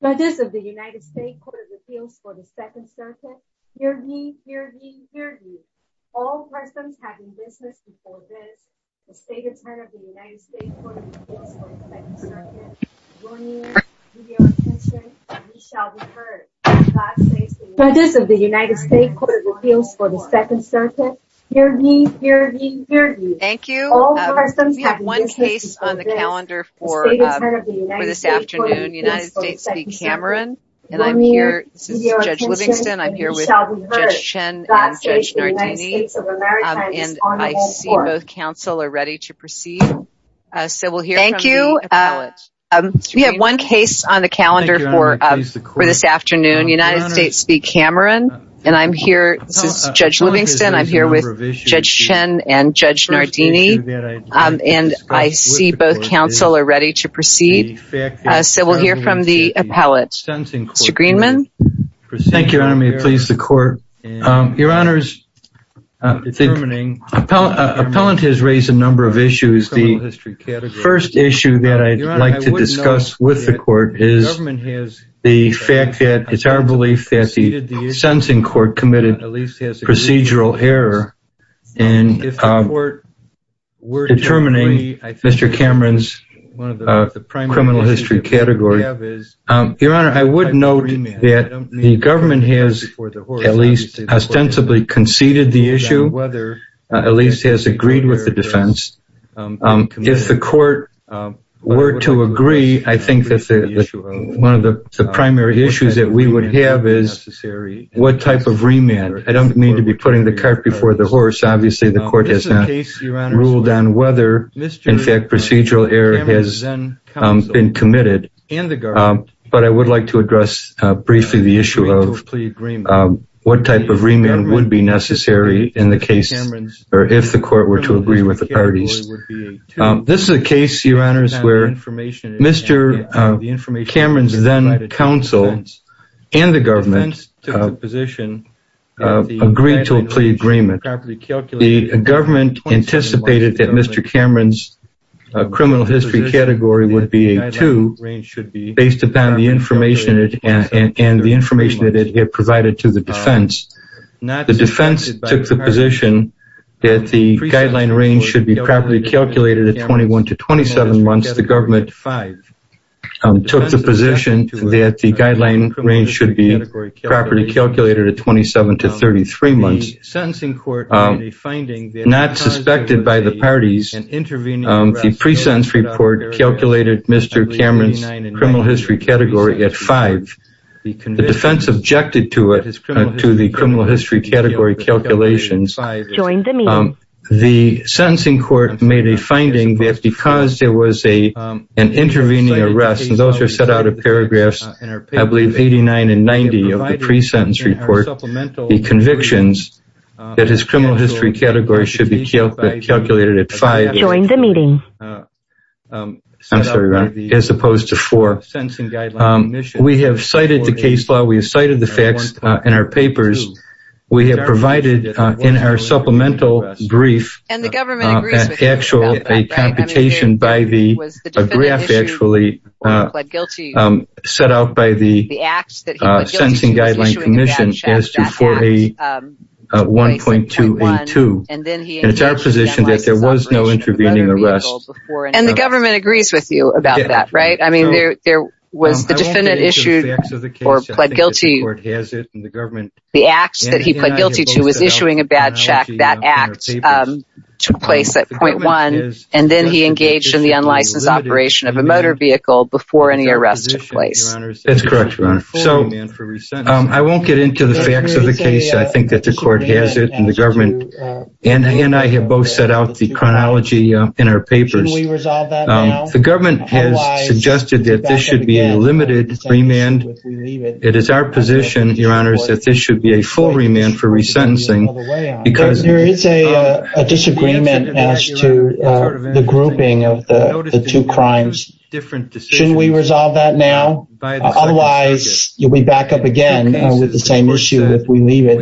by this of the United States Court of Appeals for the Second Circuit, hear me, hear me, hear me. All persons having business before this, the State Attorney of the United States Court of Appeals for the Second Circuit, will you give your attention and we shall be heard. God saves the United States of America. By this of the United States Court of Appeals for the Second Circuit, hear me, hear me, hear me. Thank you. All persons having business before this, the State Attorney of the United States Court of Appeals for the Second Circuit, will you give your attention and we shall be heard. God saves the United States of America and is on the whole court. Thank you. We have one case on the calendar for this afternoon, United States v. Cameron, and I'm here, this is Judge Livingston, I'm here with Judge Shin and Judge Nardini. And I see both counsel are ready to proceed. So we'll hear from the appellate, Mr. Greenman. Thank you, Your Honor, may it please the court. Your Honor, the appellant has raised a number of issues. The first issue that I'd like to discuss with the court is the fact that it's our belief that the sentencing court committed procedural error in determining Mr. Cameron's criminal history category. Your Honor, I would note that the government has at least ostensibly conceded the issue, If the court were to agree, I think that one of the primary issues that we would have is what type of remand. I don't mean to be putting the cart before the horse, obviously the court has not ruled on whether, in fact, procedural error has been committed. But I would like to address briefly the issue of what type of remand would be necessary in the case, or if the court were to agree with the parties. This is a case, Your Honor, where Mr. Cameron's then-counsel and the government agreed to a plea agreement. The government anticipated that Mr. Cameron's criminal history category would be a 2 based upon the information and the information that it had provided to the defense. The defense took the position that the guideline range should be properly calculated at 21 to 27 months. The government took the position that the guideline range should be properly calculated at 27 to 33 months. Not suspected by the parties, the pre-sentence report calculated Mr. Cameron's criminal history category at 5. The defense objected to it, to the criminal history category calculations. The sentencing court made a finding that because there was an intervening arrest, and those are set out in paragraphs, I believe, 89 and 90 of the pre-sentence report, the convictions that his criminal history category should be calculated at 5 as opposed to 4. We have cited the case law. We have cited the facts in our papers. We have provided in our supplemental brief an actual computation by the, a graph actually, set out by the Sentencing Guideline Commission as to 4A1.282. It's our position that there was no intervening arrest. And the government agrees with you about that, right? I mean, there was the defendant issued or pled guilty. The act that he pled guilty to was issuing a bad check. That act took place at point one, and then he engaged in the unlicensed operation of a motor vehicle before any arrest took place. That's correct, Your Honor. So, I won't get into the facts of the case. I think that the court has it, and the government, and I have both set out the chronology in our papers. The government has suggested that this should be a limited remand. It is our position, Your Honor, that this should be a full remand for resentencing because There is a disagreement as to the grouping of the two crimes. Shouldn't we resolve that now? Otherwise, you'll be back up again with the same issue if we leave it.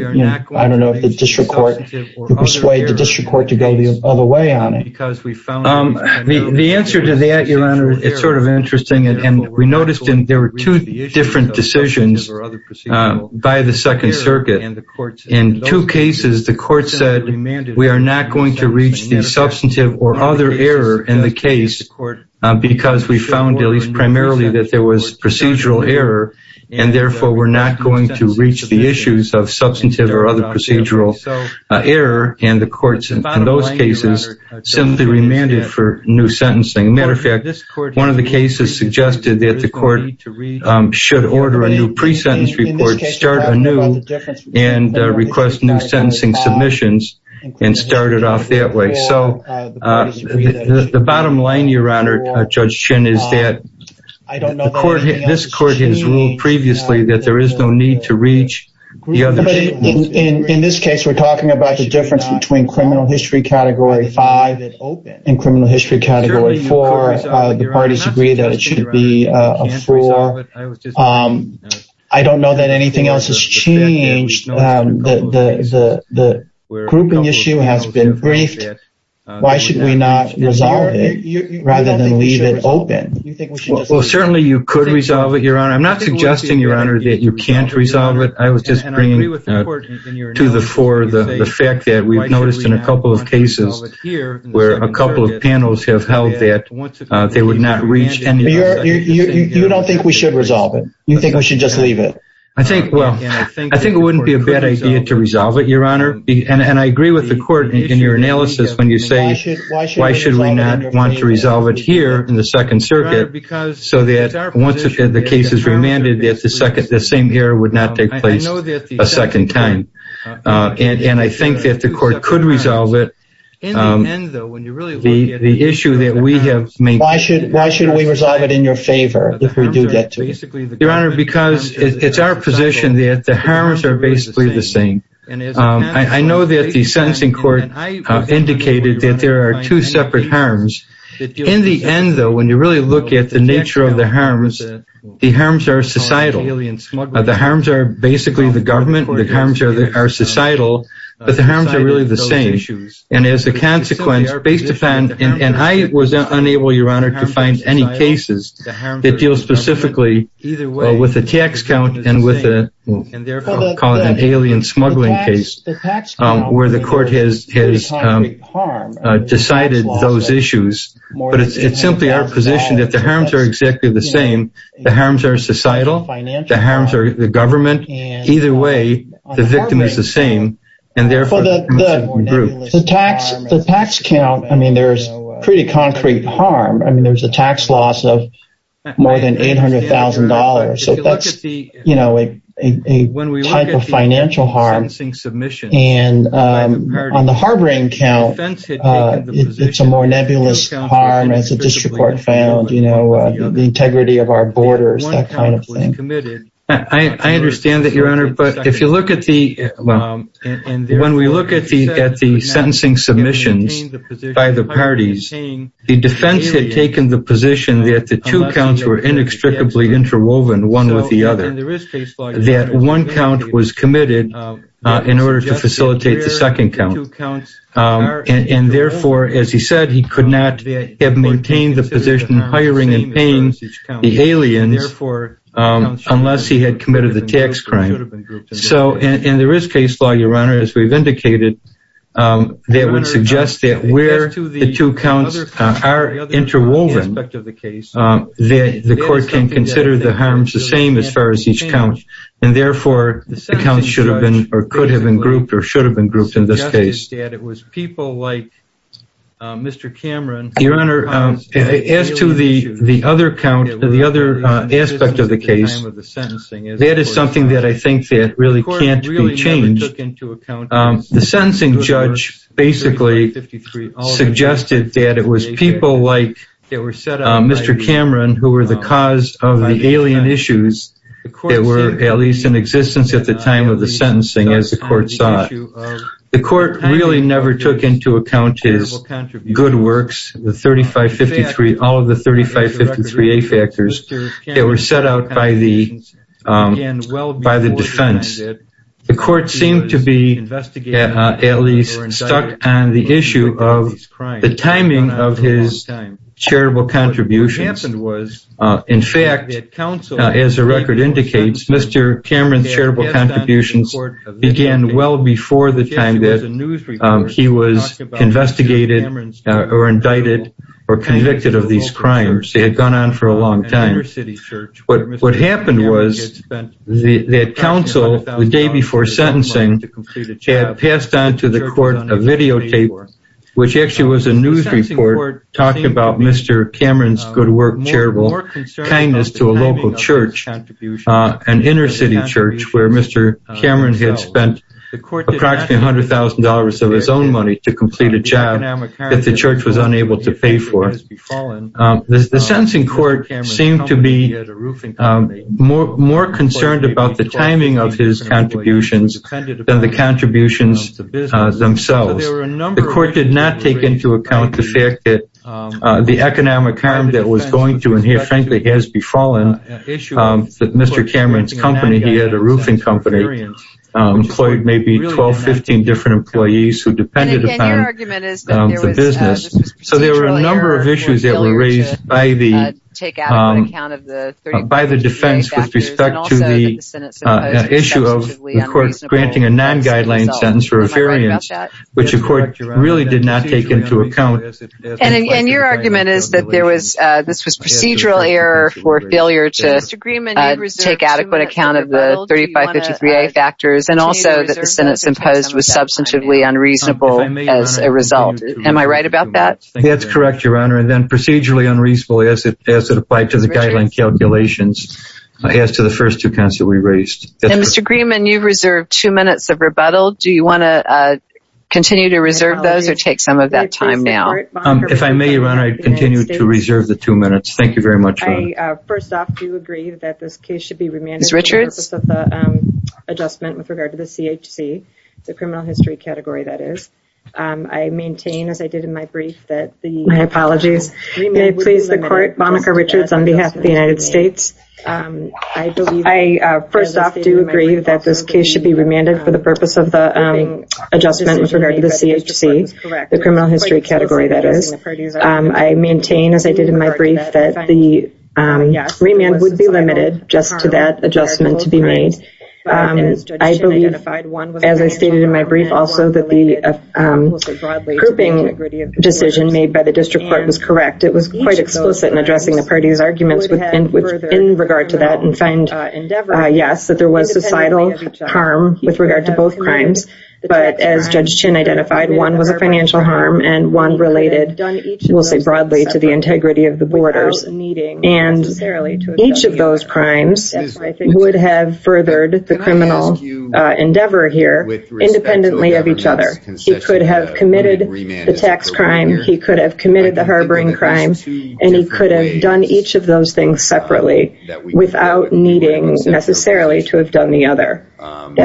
I don't know if the district court, you persuade the district court to go the other way on it. The answer to that, Your Honor, it's sort of interesting. And we noticed there were two different decisions by the Second Circuit. In two cases, the court said we are not going to reach the substantive or other error in the case because we found, at least primarily, that there was procedural error, and therefore we're not going to reach the issues of substantive or other procedural error. And the court, in those cases, simply remanded for new sentencing. Matter of fact, one of the cases suggested that the court should order a new pre-sentence report, start anew, and request new sentencing submissions, and start it off that way. So the bottom line, Your Honor, Judge Shin, is that this court has ruled previously that there is no need to reach the other. In this case, we're talking about the difference between criminal history category five and criminal history category four. The parties agree that it should be a four. I don't know that anything else has changed. The grouping issue has been briefed. Why should we not resolve it rather than leave it open? Well, certainly you could resolve it, Your Honor. I'm not suggesting, Your Honor, that you can't resolve it. I was just bringing to the fore the fact that we've noticed in a couple of cases where a couple of panels have held that they would not reach any of those. You don't think we should resolve it? You think we should just leave it? I think it wouldn't be a bad idea to resolve it, Your Honor. And I agree with the court in your analysis when you say, why should we not want to resolve it here in the Second Circuit so that once the case is remanded, the same error would not take place a second time. And I think that the court could resolve it. In the end, though, when you really look at it, why should we resolve it in your favor if we do get to it? Your Honor, because it's our position that the harms are basically the same. I know that the sentencing court indicated that there are two separate harms. In the end, though, when you really look at the nature of the harms, the harms are societal. The harms are basically the government. The harms are societal. But the harms are really the same. And as a consequence, based upon – and I was unable, Your Honor, to find any cases that deal specifically with the tax count and with the – I'll call it an alien smuggling case where the court has decided those issues. But it's simply our position that the harms are exactly the same. The harms are societal. The harms are the government. Either way, the victim is the same and, therefore, the group. The tax count, I mean, there's pretty concrete harm. I mean, there's a tax loss of more than $800,000. So that's a type of financial harm. And on the harboring count, it's a more nebulous harm as the district court found, the integrity of our borders, that kind of thing. I understand that, Your Honor, but if you look at the – well, when we look at the sentencing submissions by the parties, the defense had taken the position that the two counts were inextricably interwoven, one with the other, that one count was committed in order to facilitate the second count. And, therefore, as he said, he could not have maintained the position hiring the aliens unless he had committed the tax crime. And there is case law, Your Honor, as we've indicated, that would suggest that where the two counts are interwoven, the court can consider the harms the same as far as each count, and, therefore, the counts should have been or could have been grouped or should have been grouped in this case. Your Honor, as to the other count, the other aspect of the case, that is something that I think that really can't be changed. The sentencing judge basically suggested that it was people like Mr. Cameron who were the cause of the alien issues that were at least in existence at the time of the sentencing as the court saw it. The court really never took into account his good works, all of the 3553A factors that were set out by the defense. The court seemed to be at least stuck on the issue of the timing of his charitable contributions. In fact, as the record indicates, Mr. Cameron's charitable contributions began well before the time that he was investigated or indicted or convicted of these crimes. They had gone on for a long time. What happened was that counsel, the day before sentencing, had passed on to the court a videotape, which actually was a news report, talking about Mr. Cameron's good work, charitable kindness to a local church, an inner city church where Mr. Cameron had spent approximately $100,000 of his own money to complete a job that the church was unable to pay for. The sentencing court seemed to be more concerned about the timing of his contributions than the contributions themselves. The court did not take into account the fact that the economic harm that was going to, and here frankly has befallen Mr. Cameron's company, he had a roofing company, employed maybe 12, 15 different employees who depended upon the business. So there were a number of issues that were raised by the defense with respect to the issue of the court granting a non-guideline sentence for a variance, which the court really did not take into account. And your argument is that this was procedural error for failure to take adequate account of the 3553A factors and also that the sentence imposed was substantively unreasonable as a result. Am I right about that? That's correct, Your Honor, and then procedurally unreasonable as it applied to the guideline calculations as to the first two counts that we raised. And Mr. Greenman, you've reserved two minutes of rebuttal. Do you want to continue to reserve those or take some of that time now? If I may, Your Honor, I'd continue to reserve the two minutes. Thank you very much. I first off do agree that this case should be remanded for the purpose of the adjustment with regard to the CHC, the criminal history category that is. I maintain, as I did in my brief, that the remand would be limited. My apologies. May it please the court, Monica Richards on behalf of the United States. I first off do agree that this case should be remanded for the purpose of the adjustment with regard to the CHC, the criminal history category that is. I maintain, as I did in my brief, that the remand would be limited just to that adjustment to be made. I believe, as I stated in my brief also, that the grouping decision made by the district court was correct. It was quite explicit in addressing the parties' arguments in regard to that and find, yes, that there was societal harm with regard to both crimes. But as Judge Chin identified, one was a financial harm and one related, we'll say broadly, to the integrity of the borders. And each of those crimes would have furthered the criminal endeavor here independently of each other. He could have committed the tax crime. He could have committed the harboring crime. And he could have done each of those things separately without needing necessarily to have done the other. Can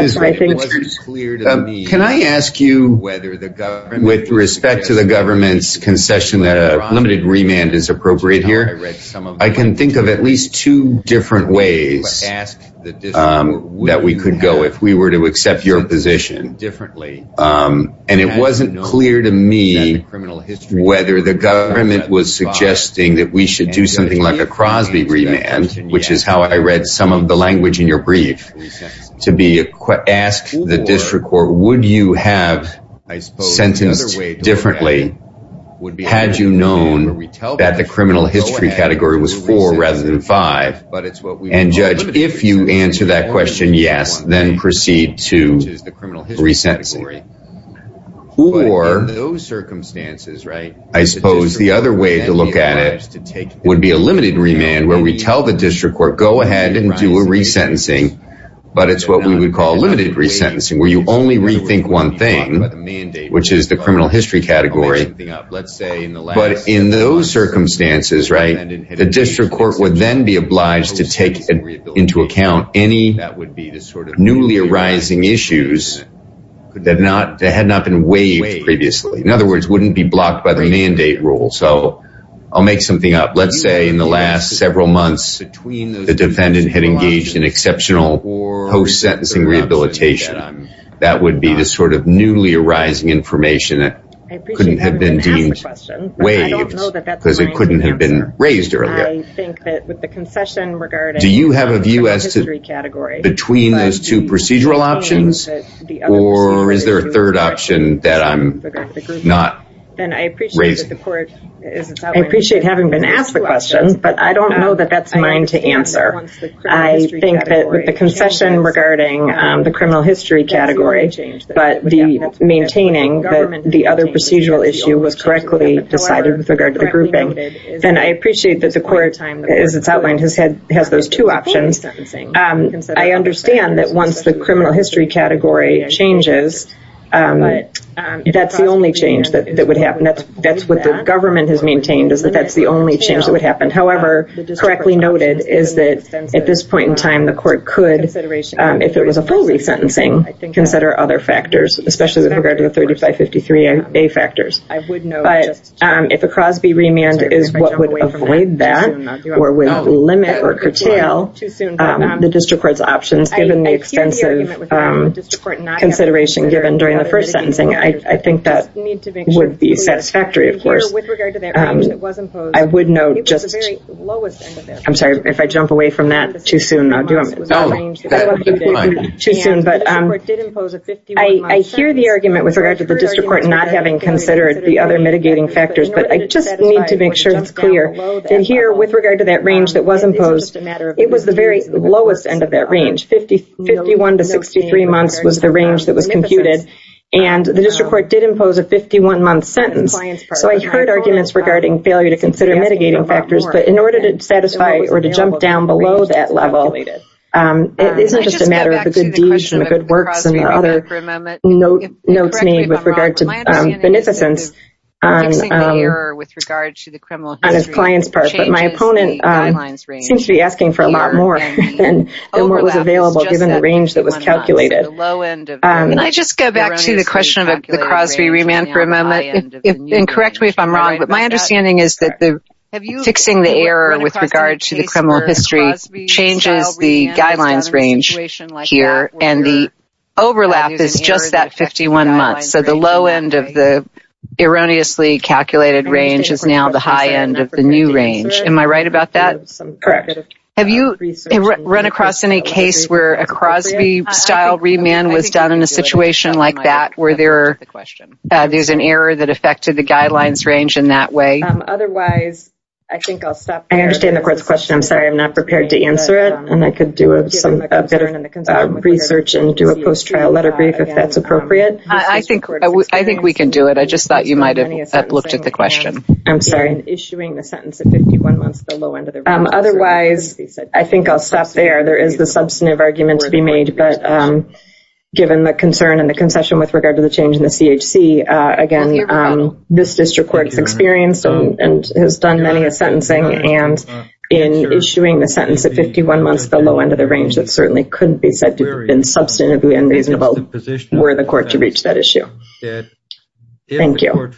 I ask you with respect to the government's concession that a limited remand is appropriate here? I can think of at least two different ways that we could go if we were to accept your position. And it wasn't clear to me whether the government was suggesting that we should do something like a Crosby remand, which is how I read some of the language in your brief, to ask the district court, would you have sentenced differently had you known that the criminal history category was four rather than five? And, Judge, if you answer that question yes, then proceed to resentencing. Or I suppose the other way to look at it would be a limited remand where we tell the district court, go ahead and do a resentencing. But it's what we would call limited resentencing where you only rethink one thing, which is the criminal history category. But in those circumstances, the district court would then be obliged to take into account any newly arising issues that had not been waived previously. In other words, wouldn't be blocked by the mandate rule. So I'll make something up. Let's say in the last several months the defendant had engaged in exceptional post-sentencing rehabilitation. That would be the sort of newly arising information that couldn't have been deemed waived because it couldn't have been raised earlier. Do you have a view between those two procedural options, or is there a third option that I'm not raising? I appreciate having been asked the question, but I don't know that that's mine to answer. I think that with the concession regarding the criminal history category, but maintaining that the other procedural issue was correctly decided with regard to the grouping, then I appreciate that the court, as it's outlined, has those two options. I understand that once the criminal history category changes, that's the only change that would happen. That's what the government has maintained, is that that's the only change that would happen. However, correctly noted is that at this point in time, the court could, if it was a full resentencing, consider other factors, especially with regard to the 3553A factors. But if a Crosby remand is what would avoid that, or would limit or curtail the district court's options, given the extensive consideration given during the first sentencing, I think that would be satisfactory, of course. I would note just, I'm sorry, if I jump away from that, too soon, I'll do it. I hear the argument with regard to the district court not having considered the other mitigating factors, but I just need to make sure it's clear that here, with regard to that range that was imposed, it was the very lowest end of that range, 51 to 63 months was the range that was computed, and the district court did impose a 51-month sentence. So I heard arguments regarding failure to consider mitigating factors, but in order to satisfy or to jump down below that level, it isn't just a matter of the good deeds and the good works and the other notes made with regard to beneficence on his client's part, but my opponent seems to be asking for a lot more than what was available, given the range that was calculated. Can I just go back to the question of the Crosby remand for a moment, and correct me if I'm wrong, but my understanding is that fixing the error with regard to the criminal history changes the guidelines range here, and the overlap is just that 51 months. So the low end of the erroneously calculated range is now the high end of the new range. Am I right about that? Correct. Have you run across any case where a Crosby-style remand was done in a situation like that, where there's an error that affected the guidelines range in that way? I understand the court's question. I'm sorry, I'm not prepared to answer it, and I could do a bit of research and do a post-trial letter brief if that's appropriate. I think we can do it. I just thought you might have looked at the question. I'm sorry. Otherwise, I think I'll stop there. There is the substantive argument to be made, but given the concern and the concession with regard to the change in the CHC, again, this district court has experienced and has done many a sentencing, and in issuing the sentence at 51 months at the low end of the range, it certainly couldn't be said to have been substantively unreasonable were the court to reach that issue. Thank you. Thank you,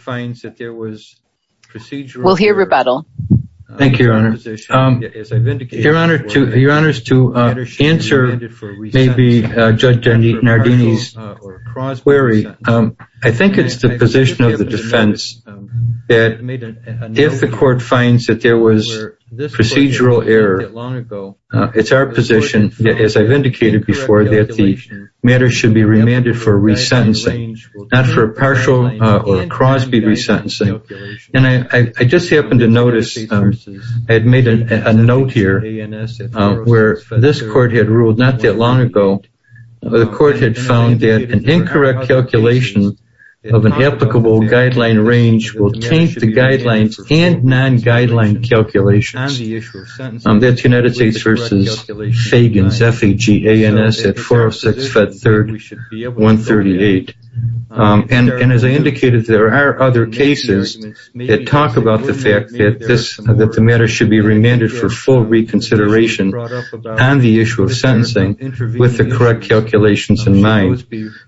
Your Honor. Your Honor, to answer maybe Judge Nardini's query, I think it's the position of the defense that if the court finds that there was procedural error, it's our position, as I've indicated before, that the matter should be remanded for resentencing, not for partial or Crosby resentencing. I just happened to notice I had made a note here where this court had ruled not that long ago, the court had found that an incorrect calculation of an applicable guideline range will taint the guidelines and non-guideline calculations. That's United States v. Fagans, F-A-G-A-N-S at 406-Fed-3rd-138. And as I indicated, there are other cases that talk about the fact that the matter should be remanded for full reconsideration on the issue of sentencing with the correct calculations in mind.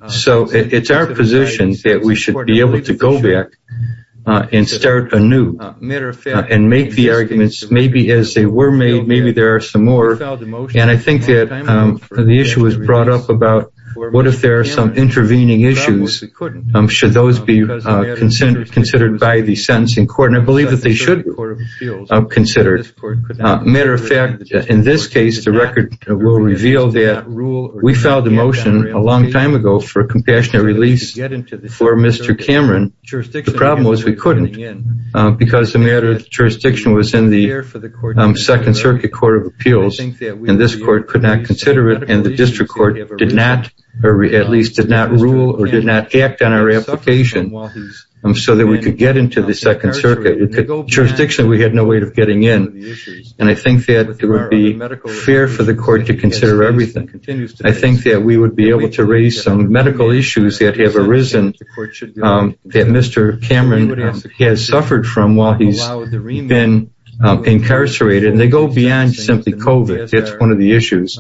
So it's our position that we should be able to go back and start anew and make the arguments, maybe as they were made, maybe there are some more. And I think that the issue was brought up about what if there are some intervening issues, should those be considered by the sentencing court? And I believe that they should be considered. Matter of fact, in this case, the record will reveal that we filed a motion a long time ago for a compassionate release for Mr. Cameron. The problem was we couldn't because the matter of jurisdiction was in the Second Circuit Court of Appeals, and this court could not consider it, and the district court did not, or at least did not rule or did not act on our application so that we could get into the Second Circuit. With the jurisdiction, we had no way of getting in. And I think that it would be fair for the court to consider everything. I think that we would be able to raise some medical issues that have arisen that Mr. Cameron has suffered from while he's been incarcerated, and they go beyond simply COVID. That's one of the issues.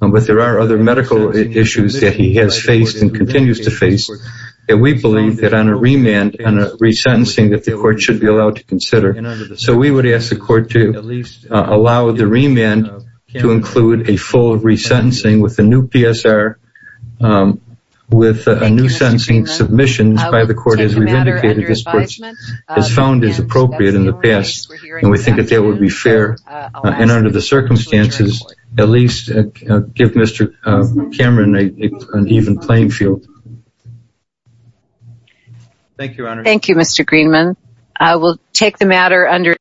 But there are other medical issues that he has faced and continues to face that we believe that on a remand, on a resentencing, that the court should be allowed to consider. So we would ask the court to at least allow the remand to include a full resentencing with a new PSR, with a new sentencing submission by the court, as we've indicated this court has found is appropriate in the past. And we think that that would be fair. And under the circumstances, at least give Mr. Cameron an even playing field. Thank you, Mr. Greenman. I will take the matter under discussion.